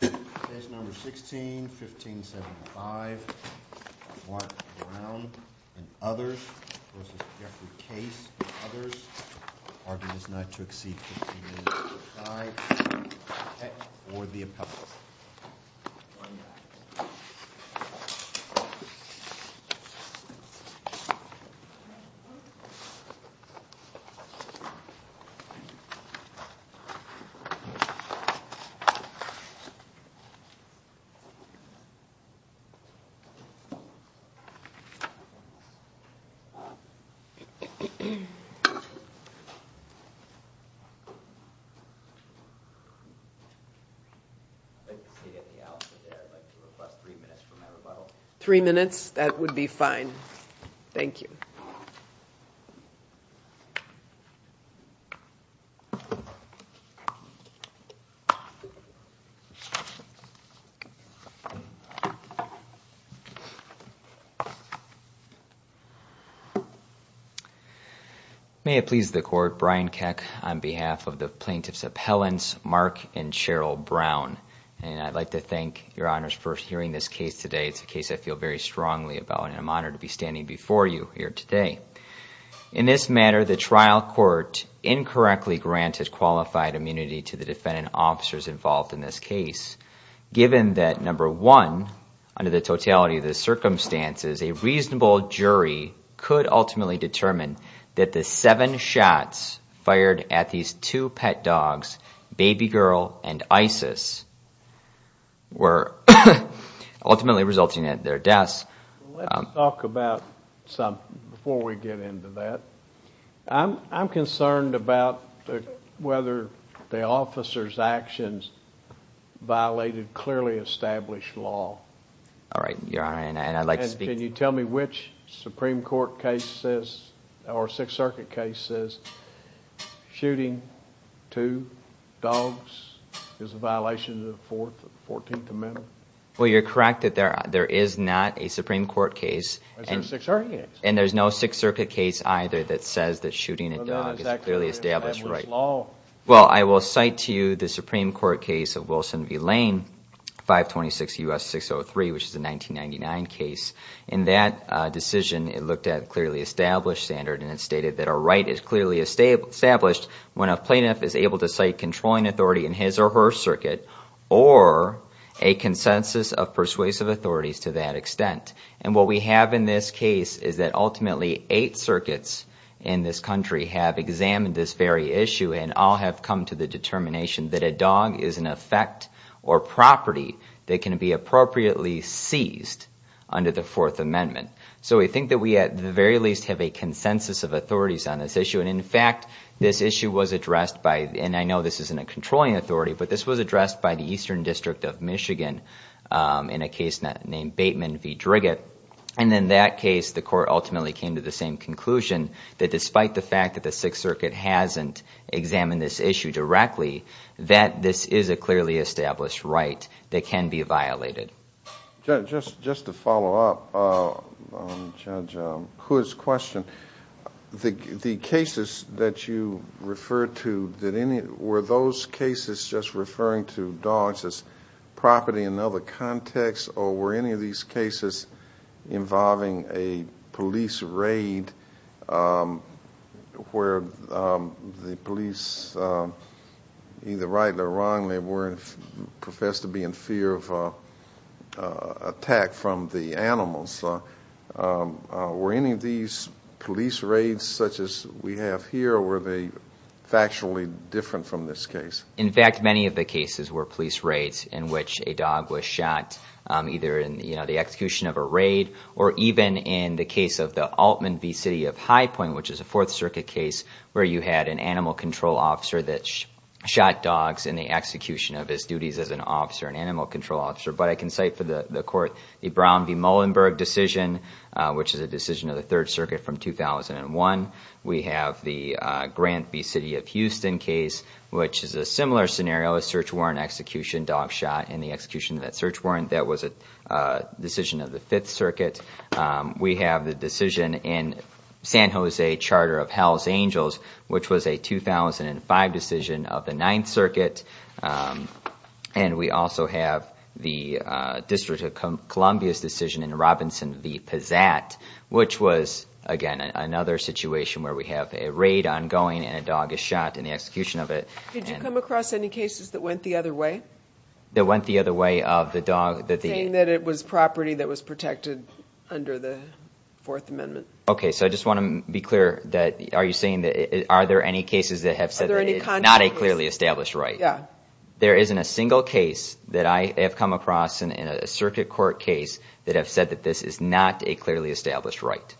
Case No. 16-1575, Mark Brown v. Jeffrey Case v. others, argued as not to exceed 1575, or the appellate. I would like to request three minutes for my rebuttal. Three minutes, that would be fine. Thank you. May it please the court, Brian Keck on behalf of the plaintiff's appellants, Mark and Cheryl Brown. And I'd like to thank your honors for hearing this case today. It's a case I feel very strongly about and I'm honored to be standing before you here today. In this matter, the trial court incorrectly granted qualified immunity to the defendant officers involved in this case. Given that, number one, under the totality of the circumstances, a reasonable jury could ultimately determine that the seven shots fired at these two pet dogs, Baby Girl and Isis, were ultimately resulting in their deaths. Let's talk about something before we get into that. I'm concerned about whether the officers' actions violated clearly established law. Can you tell me which Supreme Court case says, or Sixth Circuit case says, shooting two dogs is a violation of the Fourteenth Amendment? Well, you're correct that there is not a Supreme Court case, and there's no Sixth Circuit case either that says that shooting a dog is clearly established right. Well, I will cite to you the Supreme Court case of Wilson v. Lane, 526 U.S. 603, which is a 1999 case. In that decision, it looked at a clearly established standard and it stated that a right is clearly established when a plaintiff is able to cite controlling authority in his or her circuit or a consensus of persuasive authorities to that extent. And what we have in this case is that ultimately eight circuits in this country have examined this very issue and all have come to the determination that a dog is an effect or property that can be appropriately seized under the Fourth Amendment. So we think that we at the very least have a consensus of authorities on this issue. And in fact, this issue was addressed by, and I know this isn't a controlling authority, but this was addressed by the Eastern District of Michigan in a case named Bateman v. Driggett. And in that case, the court ultimately came to the same conclusion that despite the fact that the Sixth Circuit hasn't examined this issue directly, that this is a clearly established right that can be violated. Judge, just to follow up on Judge Hood's question, the cases that you referred to, were those cases just referring to dogs as property in another context or were any of these cases involving a police raid where the police, either rightly or wrongly, were professed to be in fear of attack from the animals? Were any of these police raids such as we have here, or were they factually different from this case? In fact, many of the cases were police raids in which a dog was shot, either in the execution of a raid or even in the case of the Altman v. City of High Point, which is a Fourth Circuit case where you had an animal control officer that shot dogs in the execution of his duties as an officer, an animal control officer. But I can cite for the court the Brown v. Muhlenberg decision, which is a decision of the Third Circuit from 2001. We have the Grant v. City of Houston case, which is a similar scenario, a search warrant execution, dog shot in the execution of that search warrant. That was a decision of the Fifth Circuit. We have the decision in San Jose Charter of Hell's Angels, which was a 2005 decision of the Ninth Circuit. And we also have the District of Columbia's decision in Robinson v. Pizzat, which was, again, another situation where we have a raid ongoing and a dog is shot in the execution of it. Did you come across any cases that went the other way? That went the other way of the dog? Saying that it was property that was protected under the Fourth Amendment. Okay, so I just want to be clear that, are you saying that, are there any cases that have said that it is not a clearly established right? Yeah. There isn't a single case that I have come across in a Circuit Court case that have said that this is not a clearly established right?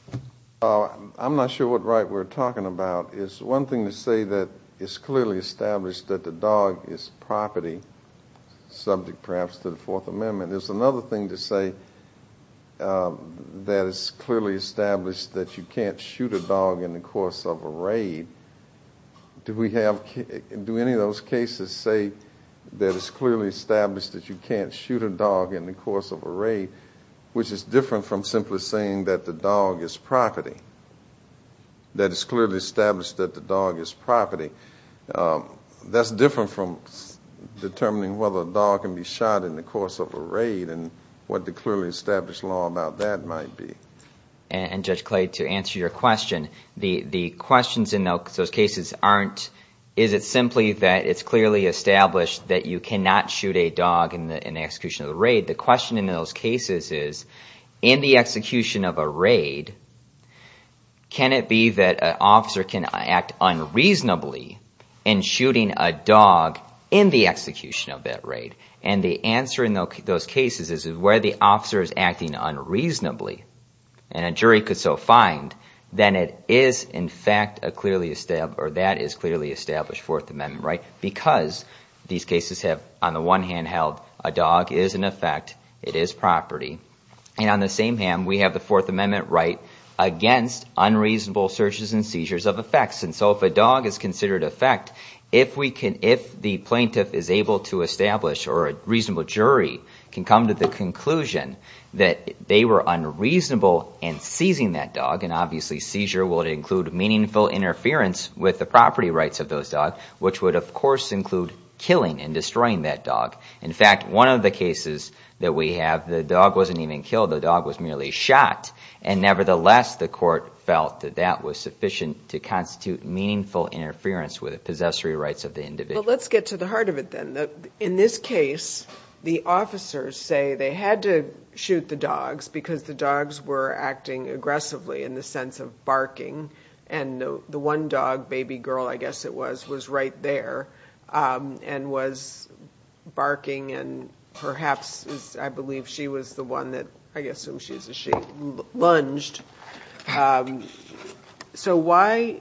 I'm not sure what right we're talking about. It's one thing to say that it's clearly established that the dog is property, subject perhaps to the Fourth Amendment. There's another thing to say that it's clearly established that you can't shoot a dog in the course of a raid. Do we have, do any of those cases say that it's clearly established that you can't shoot a dog in the course of a raid? Which is different from simply saying that the dog is property. That it's clearly established that the dog is property. That's different from determining whether a dog can be shot in the course of a raid and what the clearly established law about that might be. And Judge Clay, to answer your question, the questions in those cases aren't, is it simply that it's clearly established that you cannot shoot a dog in the execution of a raid? The question in those cases is, in the execution of a raid, can it be that an officer can act unreasonably in shooting a dog in the execution of that raid? And the answer in those cases is where the officer is acting unreasonably, and a jury could so find, then it is in fact a clearly established, or that is clearly established Fourth Amendment right? Because these cases have, on the one hand, held a dog is an effect, it is property. And on the same hand, we have the Fourth Amendment right against unreasonable searches and seizures of effects. And so if a dog is considered an effect, if we can, if the plaintiff is able to establish or a reasonable jury can come to the conclusion that they were unreasonable in seizing that dog. And obviously seizure would include meaningful interference with the property rights of those dogs, which would of course include killing and destroying that dog. In fact, one of the cases that we have, the dog wasn't even killed, the dog was merely shot. And nevertheless, the court felt that that was sufficient to constitute meaningful interference with the possessory rights of the individual. But let's get to the heart of it then. In this case, the officers say they had to shoot the dogs because the dogs were acting aggressively in the sense of barking. And the one dog, baby girl, I guess it was, was right there and was barking. And perhaps, I believe, she was the one that, I guess, she lunged. So why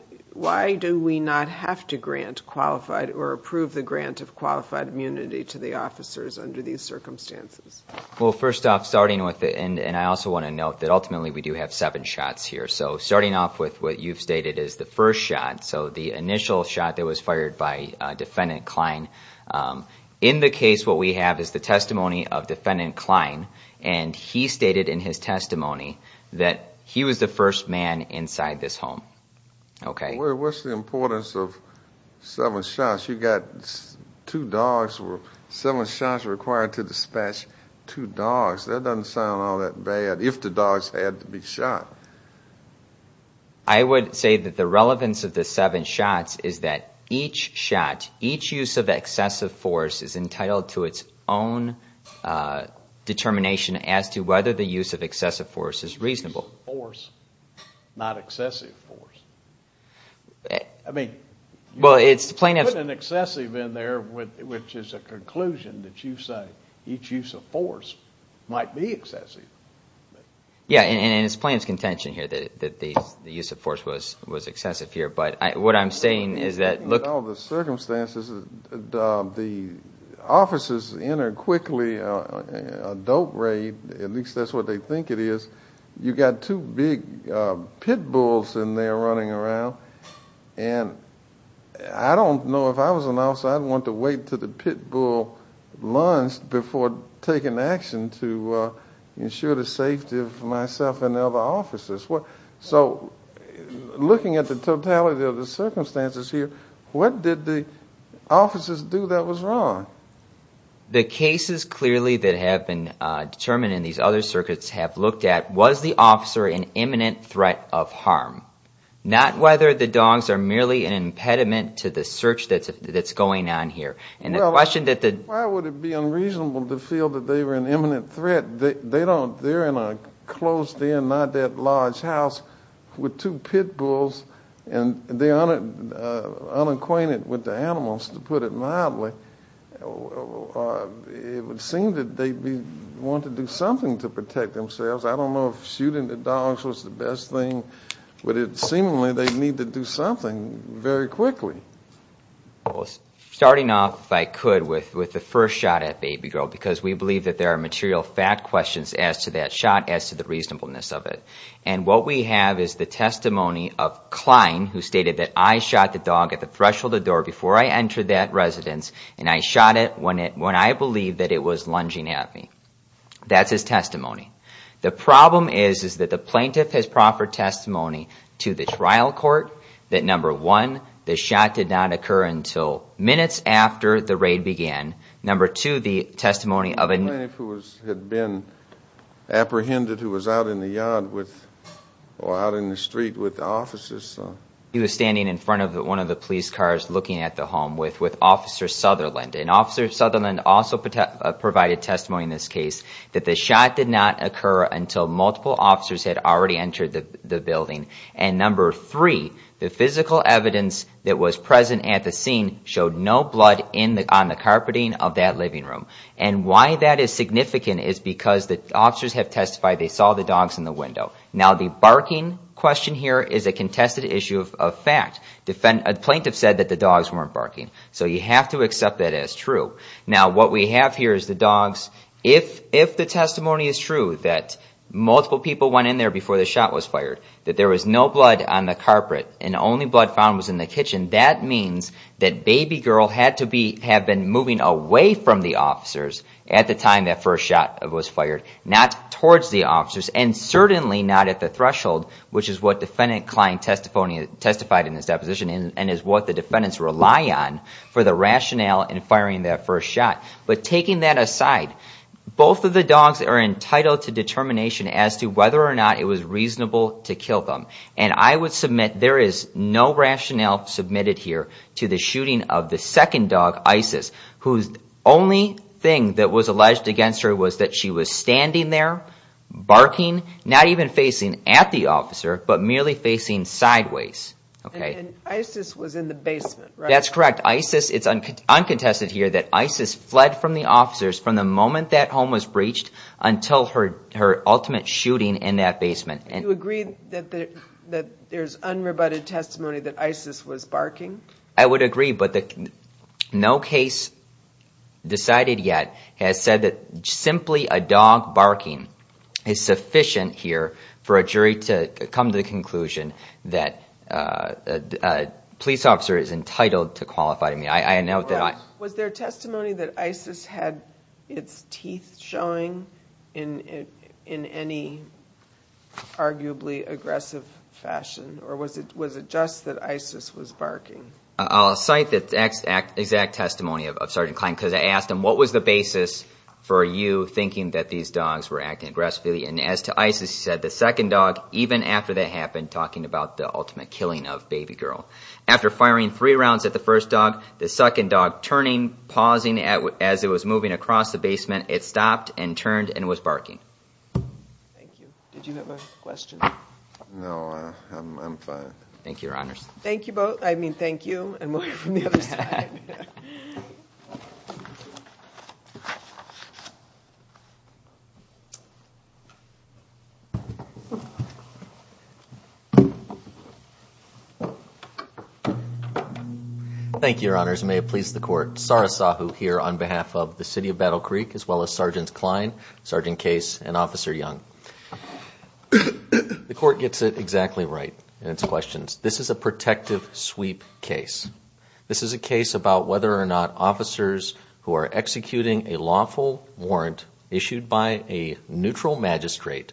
do we not have to grant qualified or approve the grant of qualified immunity to the officers under these circumstances? Well, first off, starting with, and I also want to note that ultimately we do have seven shots here. So starting off with what you've stated is the first shot, so the initial shot that was fired by Defendant Klein. In the case, what we have is the testimony of Defendant Klein. And he stated in his testimony that he was the first man inside this home. Okay. What's the importance of seven shots? You've got two dogs, seven shots required to dispatch two dogs. That doesn't sound all that bad if the dogs had to be shot. I would say that the relevance of the seven shots is that each shot, each use of excessive force, is entitled to its own determination as to whether the use of excessive force is reasonable. Use of force, not excessive force. I mean, putting an excessive in there, which is a conclusion that you say each use of force might be excessive. Yeah, and it's plain contention here that the use of force was excessive here. But what I'm saying is that look. In all the circumstances, the officers enter quickly, a dope raid, at least that's what they think it is. You've got two big pit bulls in there running around. And I don't know if I was an officer, I'd want to wait until the pit bull lunged before taking action to, you know, ensure the safety of myself and the other officers. So looking at the totality of the circumstances here, what did the officers do that was wrong? The cases clearly that have been determined in these other circuits have looked at, was the officer an imminent threat of harm? Not whether the dogs are merely an impediment to the search that's going on here. Why would it be unreasonable to feel that they were an imminent threat? They're in a closed-in, not-that-large house with two pit bulls, and they're unacquainted with the animals, to put it mildly. It would seem that they'd want to do something to protect themselves. I don't know if shooting the dogs was the best thing, but seemingly they'd need to do something very quickly. Starting off, if I could, with the first shot at Baby Girl, because we believe that there are material fact questions as to that shot, as to the reasonableness of it. And what we have is the testimony of Klein, who stated that I shot the dog at the threshold of the door before I entered that residence, and I shot it when I believed that it was lunging at me. That's his testimony. The problem is that the plaintiff has proffered testimony to the trial court that, number one, the shot did not occur until minutes after the raid began. Number two, the testimony of a... The plaintiff had been apprehended, who was out in the yard with, or out in the street with the officers. He was standing in front of one of the police cars looking at the home with Officer Sutherland. And Officer Sutherland also provided testimony in this case that the shot did not occur until multiple officers had already entered the building. And number three, the physical evidence that was present at the scene showed no blood on the carpeting of that living room. And why that is significant is because the officers have testified they saw the dogs in the window. Now, the barking question here is a contested issue of fact. A plaintiff said that the dogs weren't barking. So you have to accept that as true. Now, what we have here is the dogs... If the testimony is true, that multiple people went in there before the shot was fired, that there was no blood on the carpet, and only blood found was in the kitchen, that means that Baby Girl had to have been moving away from the officers at the time that first shot was fired. Not towards the officers, and certainly not at the threshold, which is what Defendant Klein testified in his deposition, and is what the defendants rely on for the rationale in firing that first shot. But taking that aside, both of the dogs are entitled to determination as to whether or not it was reasonable to kill them. And I would submit there is no rationale submitted here to the shooting of the second dog, Isis, whose only thing that was alleged against her was that she was standing there, barking, not even facing at the officer, but merely facing sideways. And Isis was in the basement, right? That's correct. It's uncontested here that Isis fled from the officers from the moment that home was breached until her ultimate shooting in that basement. Do you agree that there's unrebutted testimony that Isis was barking? I would agree, but no case decided yet has said that simply a dog barking is sufficient here for a jury to come to the conclusion that a police officer is entitled to qualify. Was there testimony that Isis had its teeth showing in any arguably aggressive fashion, or was it just that Isis was barking? I'll cite the exact testimony of Sergeant Klein, because I asked him, what was the basis for you thinking that these dogs were acting aggressively? And as to Isis, he said, the second dog, even after that happened, talking about the ultimate killing of Baby Girl. After firing three rounds at the first dog, the second dog turning, pausing, as it was moving across the basement, it stopped and turned and was barking. Thank you. Did you have a question? No, I'm fine. Thank you, Your Honors. Thank you both. I mean, thank you and more from the other side. Thank you, Your Honors, and may it please the Court. Sara Sahu here on behalf of the City of Battle Creek, as well as Sergeants Klein, Sergeant Case, and Officer Young. The Court gets it exactly right in its questions. This is a protective sweep case. This is a case about whether or not officers who are executing a lawful warrant issued by a neutral magistrate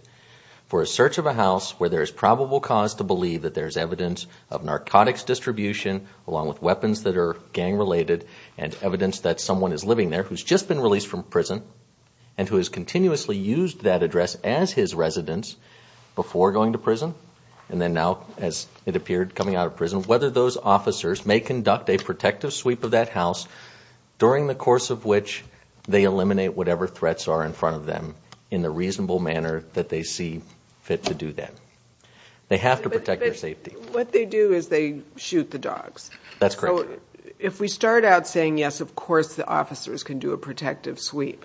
for a search of a house where there is probable cause to believe that there is evidence of narcotics distribution, along with weapons that are gang related, and evidence that someone is living there who has just been released from prison and who has continuously used that address as his residence before going to prison, and then now, as it appeared, coming out of prison, whether those officers may conduct a protective sweep of that house during the course of which they eliminate whatever threats are in front of them in the reasonable manner that they see fit to do that. They have to protect their safety. But what they do is they shoot the dogs. That's correct. So if we start out saying, yes, of course the officers can do a protective sweep,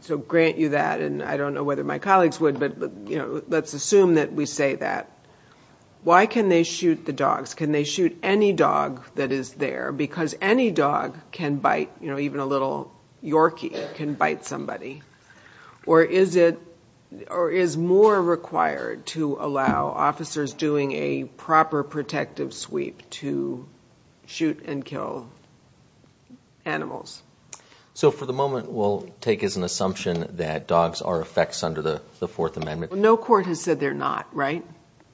so grant you that, and I don't know whether my colleagues would, but let's assume that we say that. Why can they shoot the dogs? Can they shoot any dog that is there? Because any dog can bite, even a little Yorkie can bite somebody. Or is more required to allow officers doing a proper protective sweep to shoot and kill animals? For the moment, we'll take as an assumption that dogs are effects under the Fourth Amendment. No court has said they're not, right?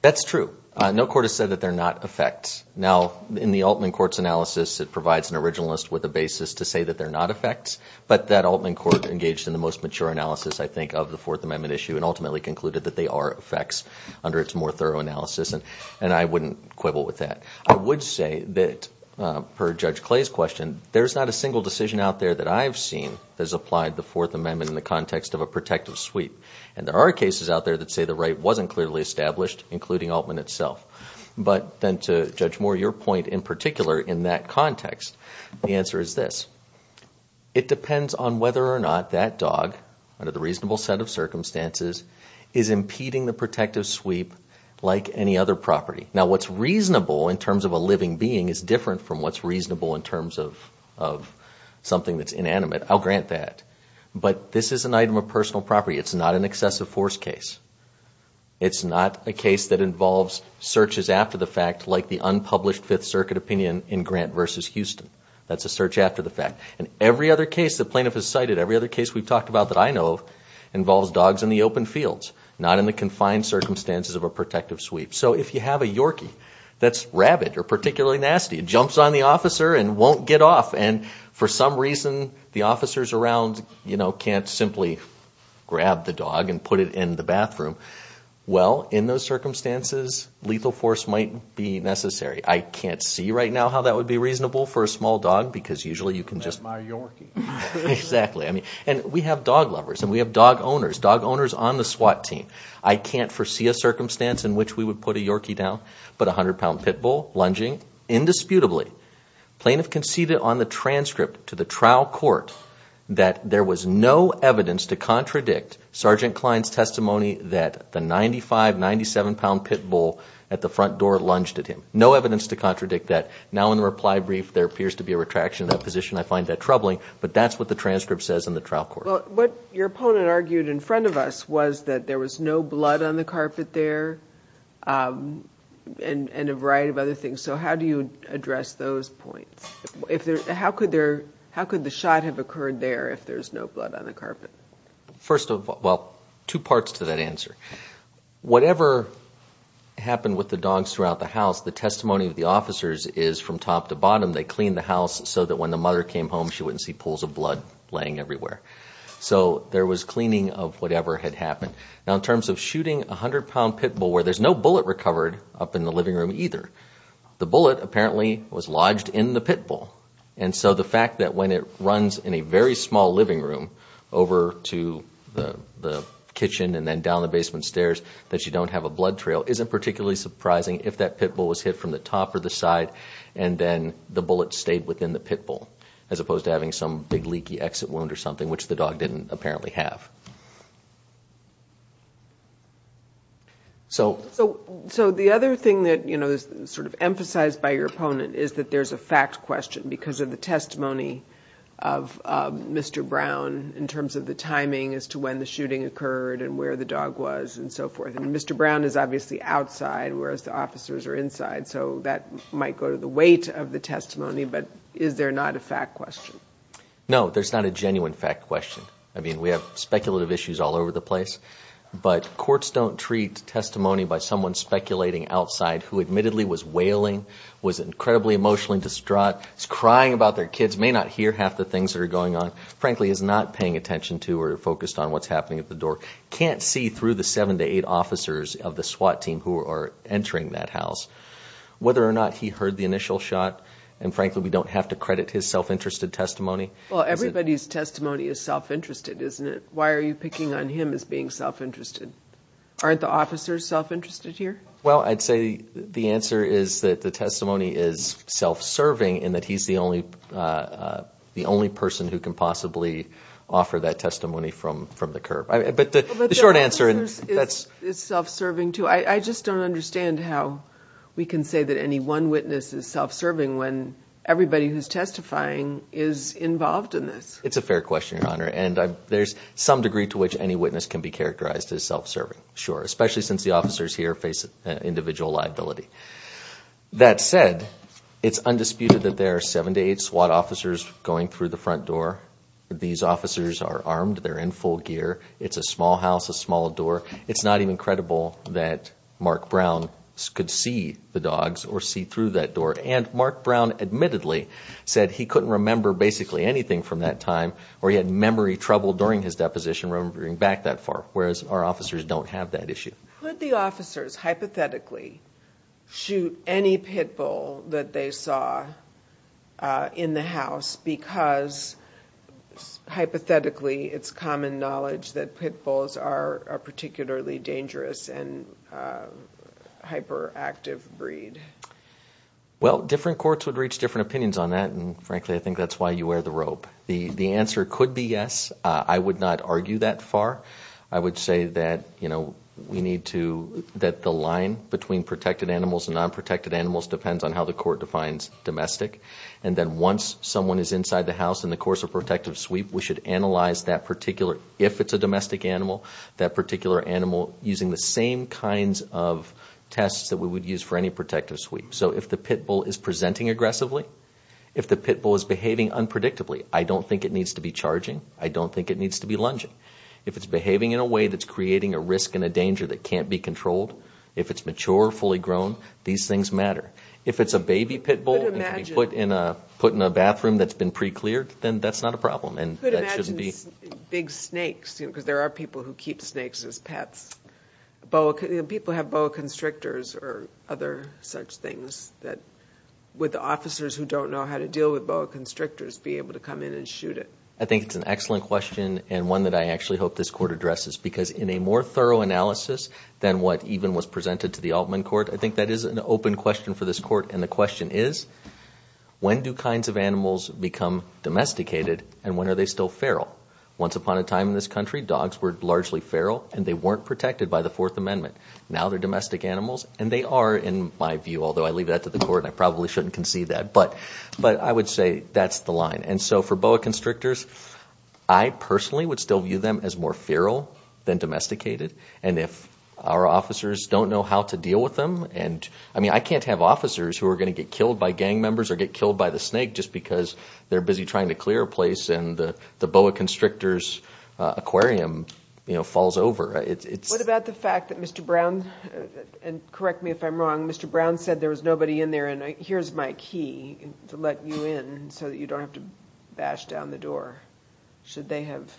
That's true. No court has said that they're not effects. Now, in the Altman Court's analysis, it provides an originalist with a basis to say that they're not effects, but that Altman Court engaged in the most mature analysis, I think, of the Fourth Amendment issue and ultimately concluded that they are effects under its more thorough analysis, and I wouldn't quibble with that. I would say that, per Judge Clay's question, there's not a single decision out there that I've seen that has applied the Fourth Amendment in the context of a protective sweep. And there are cases out there that say the right wasn't clearly established, including Altman itself. But then to Judge Moore, your point in particular in that context, the answer is this. It depends on whether or not that dog, under the reasonable set of circumstances, is impeding the protective sweep like any other property. Now, what's reasonable in terms of a living being is different from what's reasonable in terms of something that's inanimate. I'll grant that. But this is an item of personal property. It's not an excessive force case. It's not a case that involves searches after the fact like the unpublished Fifth Circuit opinion in Grant v. Houston. That's a search after the fact. And every other case the plaintiff has cited, every other case we've talked about that I know of, involves dogs in the open fields, not in the confined circumstances of a protective sweep. So if you have a Yorkie that's rabid or particularly nasty, it jumps on the officer and won't get off, and for some reason the officers around can't simply grab the dog and put it in the bathroom, well, in those circumstances, lethal force might be necessary. I can't see right now how that would be reasonable for a small dog because usually you can just— That's my Yorkie. Exactly. And we have dog lovers and we have dog owners, dog owners on the SWAT team. I can't foresee a circumstance in which we would put a Yorkie down, but a 100-pound pit bull lunging indisputably. The plaintiff conceded on the transcript to the trial court that there was no evidence to contradict Sergeant Klein's testimony that the 95, 97-pound pit bull at the front door lunged at him. No evidence to contradict that. Now in the reply brief there appears to be a retraction of that position. I find that troubling, but that's what the transcript says in the trial court. Well, what your opponent argued in front of us was that there was no blood on the carpet there and a variety of other things. So how do you address those points? How could the shot have occurred there if there's no blood on the carpet? First of all, well, two parts to that answer. Whatever happened with the dogs throughout the house, the testimony of the officers is from top to bottom. They cleaned the house so that when the mother came home she wouldn't see pools of blood laying everywhere. So there was cleaning of whatever had happened. Now in terms of shooting a 100-pound pit bull where there's no bullet recovered up in the living room either, the bullet apparently was lodged in the pit bull. And so the fact that when it runs in a very small living room over to the kitchen and then down the basement stairs that you don't have a blood trail isn't particularly surprising if that pit bull was hit from the top or the side and then the bullet stayed within the pit bull as opposed to having some big leaky exit wound or something, which the dog didn't apparently have. So the other thing that is sort of emphasized by your opponent is that there's a fact question because of the testimony of Mr. Brown in terms of the timing as to when the shooting occurred and where the dog was and so forth. And Mr. Brown is obviously outside whereas the officers are inside. So that might go to the weight of the testimony, but is there not a fact question? No, there's not a genuine fact question. I mean, we have speculative issues all over the place. But courts don't treat testimony by someone speculating outside who admittedly was wailing, was incredibly emotionally distraught, was crying about their kids, may not hear half the things that are going on, frankly is not paying attention to or focused on what's happening at the door, can't see through the seven to eight officers of the SWAT team who are entering that house. Whether or not he heard the initial shot, and frankly we don't have to credit his self-interested testimony. Well, everybody's testimony is self-interested, isn't it? Why are you picking on him as being self-interested? Aren't the officers self-interested here? Well, I'd say the answer is that the testimony is self-serving and that he's the only person who can possibly offer that testimony from the curb. But the short answer is that's... It's self-serving, too. I just don't understand how we can say that any one witness is self-serving when everybody who's testifying is involved in this. It's a fair question, Your Honor, and there's some degree to which any witness can be characterized as self-serving, sure, especially since the officers here face individual liability. That said, it's undisputed that there are seven to eight SWAT officers going through the front door. These officers are armed. They're in full gear. It's a small house, a small door. It's not even credible that Mark Brown could see the dogs or see through that door. And Mark Brown admittedly said he couldn't remember basically anything from that time or he had memory trouble during his deposition remembering back that far, whereas our officers don't have that issue. Could the officers hypothetically shoot any pit bull that they saw in the house because hypothetically it's common knowledge that pit bulls are a particularly dangerous and hyperactive breed? Well, different courts would reach different opinions on that, and frankly I think that's why you wear the rope. The answer could be yes. I would not argue that far. I would say that the line between protected animals and non-protected animals depends on how the court defines domestic, and then once someone is inside the house in the course of protective sweep, we should analyze that particular, if it's a domestic animal, that particular animal using the same kinds of tests that we would use for any protective sweep. So if the pit bull is presenting aggressively, if the pit bull is behaving unpredictably, I don't think it needs to be charging. I don't think it needs to be lunging. If it's behaving in a way that's creating a risk and a danger that can't be controlled, if it's mature, fully grown, these things matter. If it's a baby pit bull and can be put in a bathroom that's been pre-cleared, then that's not a problem and that shouldn't be. I could imagine big snakes, because there are people who keep snakes as pets. People have boa constrictors or other such things. Would the officers who don't know how to deal with boa constrictors be able to come in and shoot it? I think it's an excellent question and one that I actually hope this court addresses, because in a more thorough analysis than what even was presented to the Altman court, I think that is an open question for this court, and the question is, when do kinds of animals become domesticated and when are they still feral? Once upon a time in this country, dogs were largely feral, and they weren't protected by the Fourth Amendment. Now they're domestic animals, and they are in my view, although I leave that to the court and I probably shouldn't concede that. But I would say that's the line. And so for boa constrictors, I personally would still view them as more feral than domesticated. And if our officers don't know how to deal with them, and I mean I can't have officers who are going to get killed by gang members or get killed by the snake just because they're busy trying to clear a place and the boa constrictor's aquarium falls over. What about the fact that Mr. Brown, and correct me if I'm wrong, Mr. Brown said there was nobody in there and here's my key to let you in so that you don't have to bash down the door. Should they have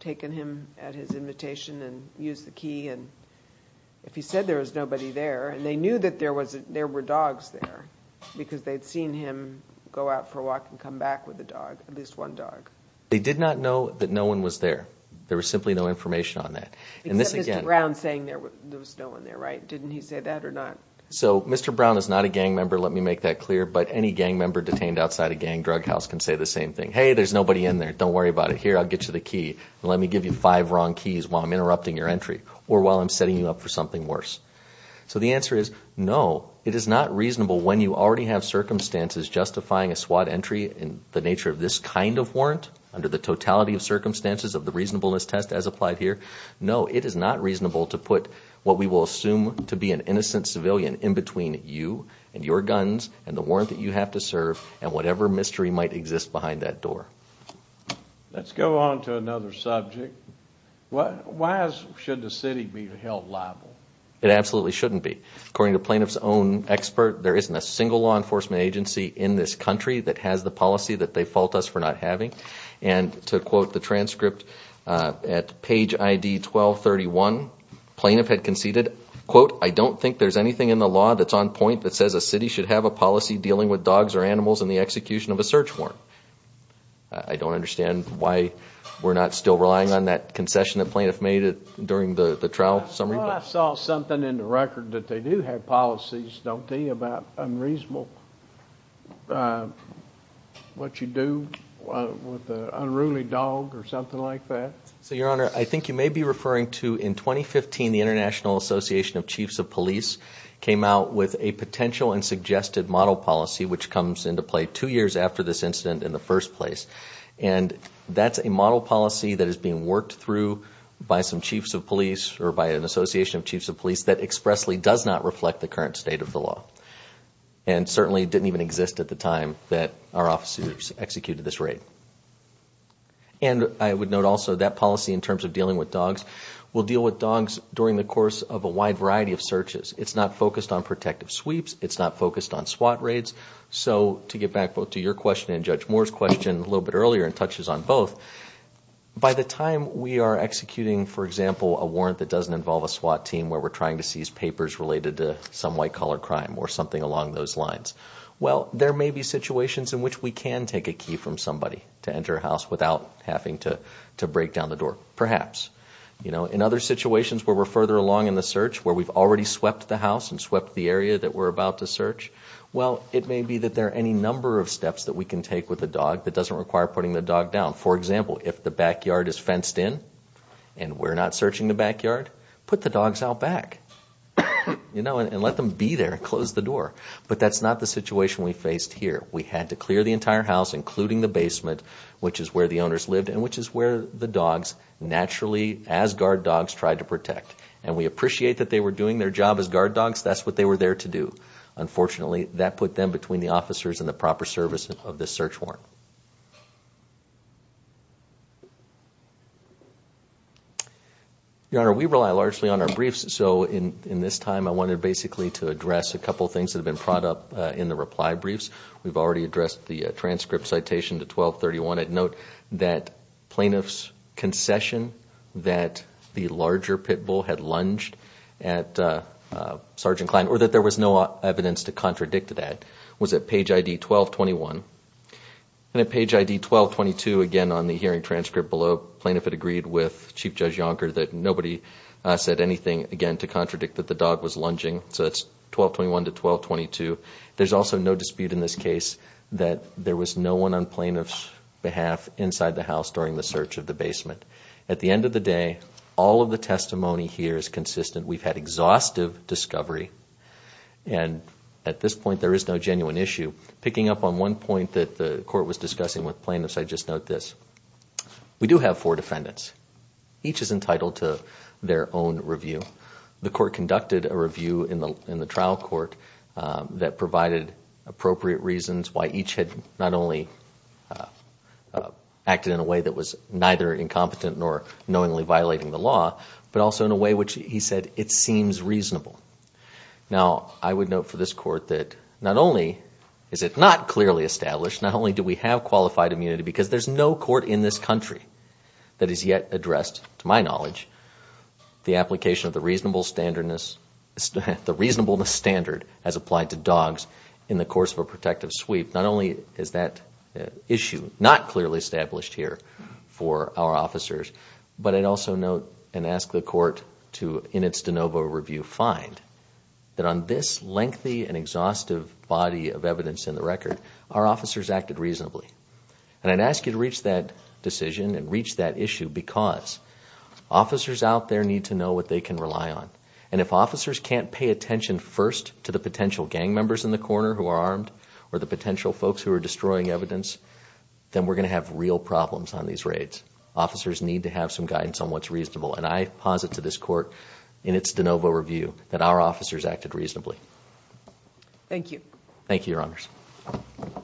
taken him at his invitation and used the key? And if he said there was nobody there, and they knew that there were dogs there because they'd seen him go out for a walk and come back with a dog, at least one dog. They did not know that no one was there. There was simply no information on that. Except Mr. Brown saying there was no one there, right? Didn't he say that or not? So Mr. Brown is not a gang member, let me make that clear, but any gang member detained outside a gang drug house can say the same thing. Hey, there's nobody in there, don't worry about it. Here, I'll get you the key. Let me give you five wrong keys while I'm interrupting your entry or while I'm setting you up for something worse. So the answer is no, it is not reasonable when you already have circumstances justifying a SWAT entry in the nature of this kind of warrant under the totality of circumstances of the reasonableness test as applied here. No, it is not reasonable to put what we will assume to be an innocent civilian in between you and your guns and the warrant that you have to serve and whatever mystery might exist behind that door. Let's go on to another subject. Why should the city be held liable? It absolutely shouldn't be. According to Plaintiff's own expert, there isn't a single law enforcement agency in this country that has the policy that they fault us for not having. And to quote the transcript, at page ID 1231, Plaintiff had conceded, quote, I don't think there's anything in the law that's on point that says a city should have a policy dealing with dogs or animals in the execution of a search warrant. I don't understand why we're not still relying on that concession that Plaintiff made during the trial summary. Well, I saw something in the record that they do have policies, don't they, about unreasonable, what you do with an unruly dog or something like that. So, Your Honor, I think you may be referring to, in 2015, the International Association of Chiefs of Police came out with a potential and suggested model policy which comes into play two years after this incident in the first place, and that's a model policy that is being worked through by some chiefs of police or by an association of chiefs of police that expressly does not reflect the current state of the law and certainly didn't even exist at the time that our officers executed this raid. And I would note also that policy, in terms of dealing with dogs, will deal with dogs during the course of a wide variety of searches. It's not focused on protective sweeps. It's not focused on SWAT raids. So, to get back both to your question and Judge Moore's question a little bit earlier and touches on both, by the time we are executing, for example, a warrant that doesn't involve a SWAT team where we're trying to seize papers related to some white-collar crime or something along those lines, well, there may be situations in which we can take a key from somebody to enter a house without having to break down the door, perhaps. In other situations where we're further along in the search, where we've already swept the house and swept the area that we're about to search, well, it may be that there are any number of steps that we can take with the dog that doesn't require putting the dog down. For example, if the backyard is fenced in and we're not searching the backyard, put the dogs out back and let them be there and close the door. But that's not the situation we faced here. We had to clear the entire house, including the basement, which is where the owners lived and which is where the dogs naturally, as guard dogs, tried to protect. And we appreciate that they were doing their job as guard dogs. That's what they were there to do. Unfortunately, that put them between the officers and the proper service of the search warrant. Your Honor, we rely largely on our briefs. So in this time, I wanted basically to address a couple of things that have been brought up in the reply briefs. We've already addressed the transcript citation to 1231. I'd note that plaintiff's concession that the larger pit bull had lunged at Sergeant Kline or that there was no evidence to contradict that was at page ID 1221. And at page ID 1222, again, on the hearing transcript below, plaintiff had agreed with Chief Judge Yonker that nobody said anything, again, to contradict that the dog was lunging. So that's 1221 to 1222. There's also no dispute in this case that there was no one on plaintiff's behalf inside the house during the search of the basement. At the end of the day, all of the testimony here is consistent. We've had exhaustive discovery. And at this point, there is no genuine issue. Picking up on one point that the Court was discussing with plaintiffs, I'd just note this. We do have four defendants. Each is entitled to their own review. The Court conducted a review in the trial court that provided appropriate reasons why each had not only acted in a way that was neither incompetent nor knowingly violating the law, but also in a way which, he said, it seems reasonable. Now, I would note for this Court that not only is it not clearly established, not only do we have qualified immunity because there's no court in this country that has yet addressed, to my knowledge, the application of the reasonableness standard as applied to dogs in the course of a protective sweep. Not only is that issue not clearly established here for our officers, but I'd also note and ask the Court to, in its de novo review, find that on this lengthy and exhaustive body of evidence in the record, our officers acted reasonably. I'd ask you to reach that decision and reach that issue because officers out there need to know what they can rely on. If officers can't pay attention first to the potential gang members in the corner who are armed or the potential folks who are destroying evidence, then we're going to have real problems on these raids. Officers need to have some guidance on what's reasonable. I posit to this Court, in its de novo review, that our officers acted reasonably. Thank you. Thank you, Your Honors. Thank you.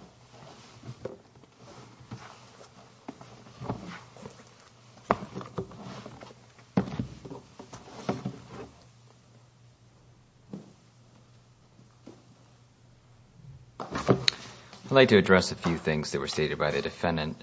I'd like to address a few things that were stated by the defendant,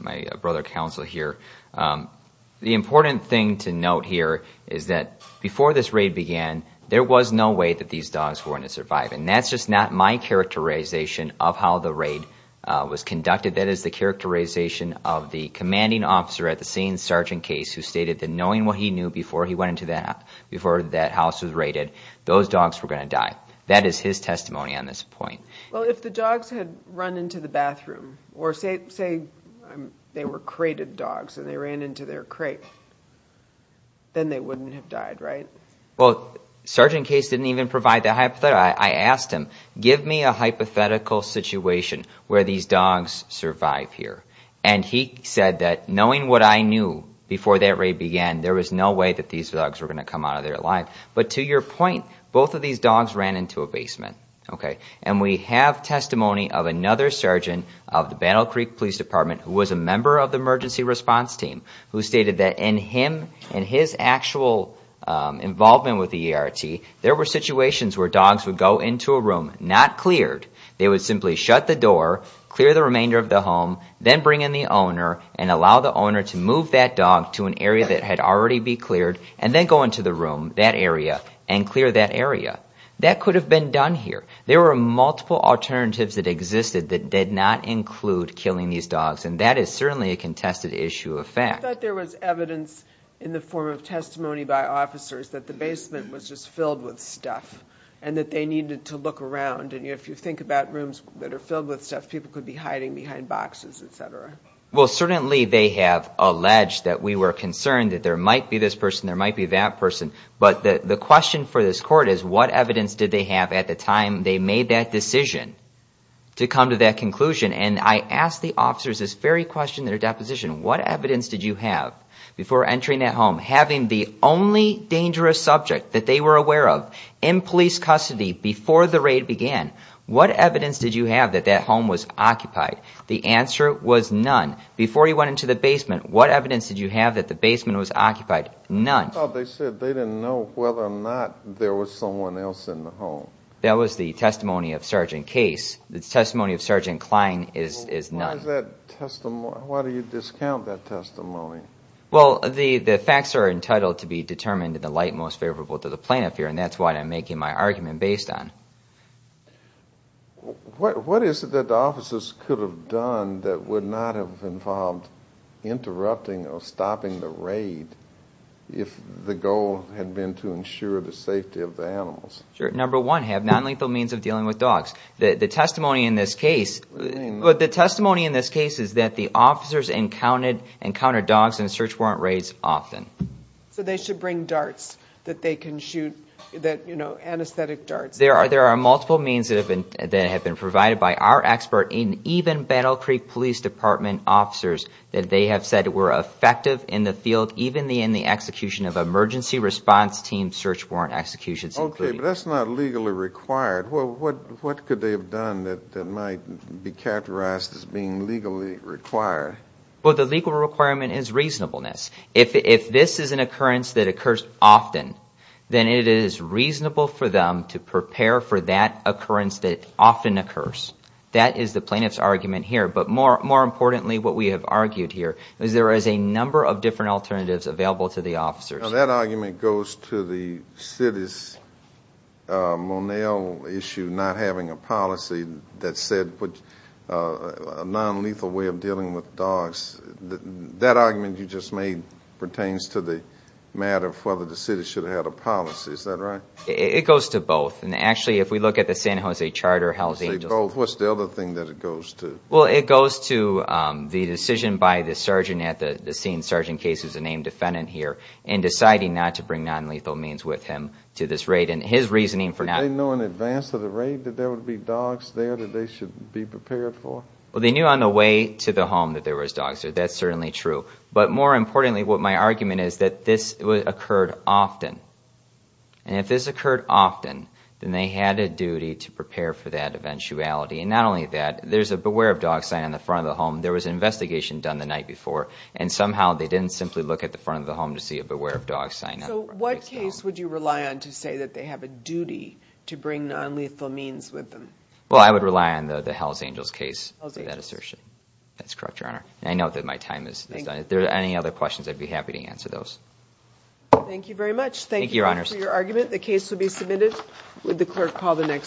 my brother counsel here. The important thing to note here is that before this raid began, there was no way that these dogs were going to survive, and that's just not my characterization of how the raid was conducted. That is the characterization of the commanding officer at the scene, Sergeant Case, who stated that knowing what he knew before he went into that house, before that house was raided, those dogs were going to die. That is his testimony on this point. Well, if the dogs had run into the bathroom, or say they were crated dogs and they ran into their crate, then they wouldn't have died, right? Well, Sergeant Case didn't even provide that hypothesis. I asked him, give me a hypothetical situation where these dogs survive here. And he said that knowing what I knew before that raid began, there was no way that these dogs were going to come out of there alive. But to your point, both of these dogs ran into a basement. And we have testimony of another surgeon of the Battle Creek Police Department who was a member of the emergency response team, who stated that in his actual involvement with the ERT, there were situations where dogs would go into a room not cleared. They would simply shut the door, clear the remainder of the home, then bring in the owner and allow the owner to move that dog to an area that had already been cleared, and then go into the room, that area, and clear that area. That could have been done here. There were multiple alternatives that existed that did not include killing these dogs. And that is certainly a contested issue of fact. I thought there was evidence in the form of testimony by officers that the basement was just filled with stuff and that they needed to look around. And if you think about rooms that are filled with stuff, people could be hiding behind boxes, et cetera. Well, certainly they have alleged that we were concerned that there might be this person, there might be that person. But the question for this court is what evidence did they have at the time they made that decision to come to that conclusion? And I ask the officers this very question in their deposition, what evidence did you have before entering that home? Having the only dangerous subject that they were aware of in police custody before the raid began, what evidence did you have that that home was occupied? The answer was none. Before you went into the basement, what evidence did you have that the basement was occupied? None. I thought they said they didn't know whether or not there was someone else in the home. That was the testimony of Sergeant Case. The testimony of Sergeant Klein is none. Why do you discount that testimony? Well, the facts are entitled to be determined in the light most favorable to the plaintiff here, and that's what I'm making my argument based on. What is it that the officers could have done that would not have involved interrupting or stopping the raid if the goal had been to ensure the safety of the animals? Number one, have nonlethal means of dealing with dogs. The testimony in this case is that the officers encountered dogs in search warrant raids often. So they should bring darts that they can shoot, you know, anesthetic darts. There are multiple means that have been provided by our expert and even Battle Creek Police Department officers that they have said were effective in the field, even in the execution of emergency response team search warrant executions. Okay, but that's not legally required. Well, what could they have done that might be characterized as being legally required? Well, the legal requirement is reasonableness. If this is an occurrence that occurs often, then it is reasonable for them to prepare for that occurrence that often occurs. That is the plaintiff's argument here. But more importantly, what we have argued here is there is a number of different alternatives available to the officers. Now, that argument goes to the city's Monell issue, not having a policy that said a nonlethal way of dealing with dogs. That argument you just made pertains to the matter of whether the city should have had a policy. Is that right? It goes to both. And, actually, if we look at the San Jose Charter, how the angels... You say both. What's the other thing that it goes to? Well, it goes to the decision by the sergeant at the scene, Sergeant Case, who is a named defendant here, in deciding not to bring nonlethal means with him to this raid. And his reasoning for not... Did they know in advance of the raid that there would be dogs there that they should be prepared for? Well, they knew on the way to the home that there was dogs there. That's certainly true. But, more importantly, what my argument is that this occurred often. And if this occurred often, then they had a duty to prepare for that eventuality. And not only that, there's a Beware of Dogs sign on the front of the home. There was an investigation done the night before, and somehow they didn't simply look at the front of the home to see a Beware of Dogs sign on the front of the home. So, what case would you rely on to say that they have a duty to bring nonlethal means with them? Well, I would rely on the Hells Angels case for that assertion. Hells Angels. That's correct, Your Honor. And I know that my time is done. Thank you. If there are any other questions, I'd be happy to answer those. Thank you very much. Thank you, Your Honor. Thank you for your argument. The case will be submitted. Would the clerk call the next case?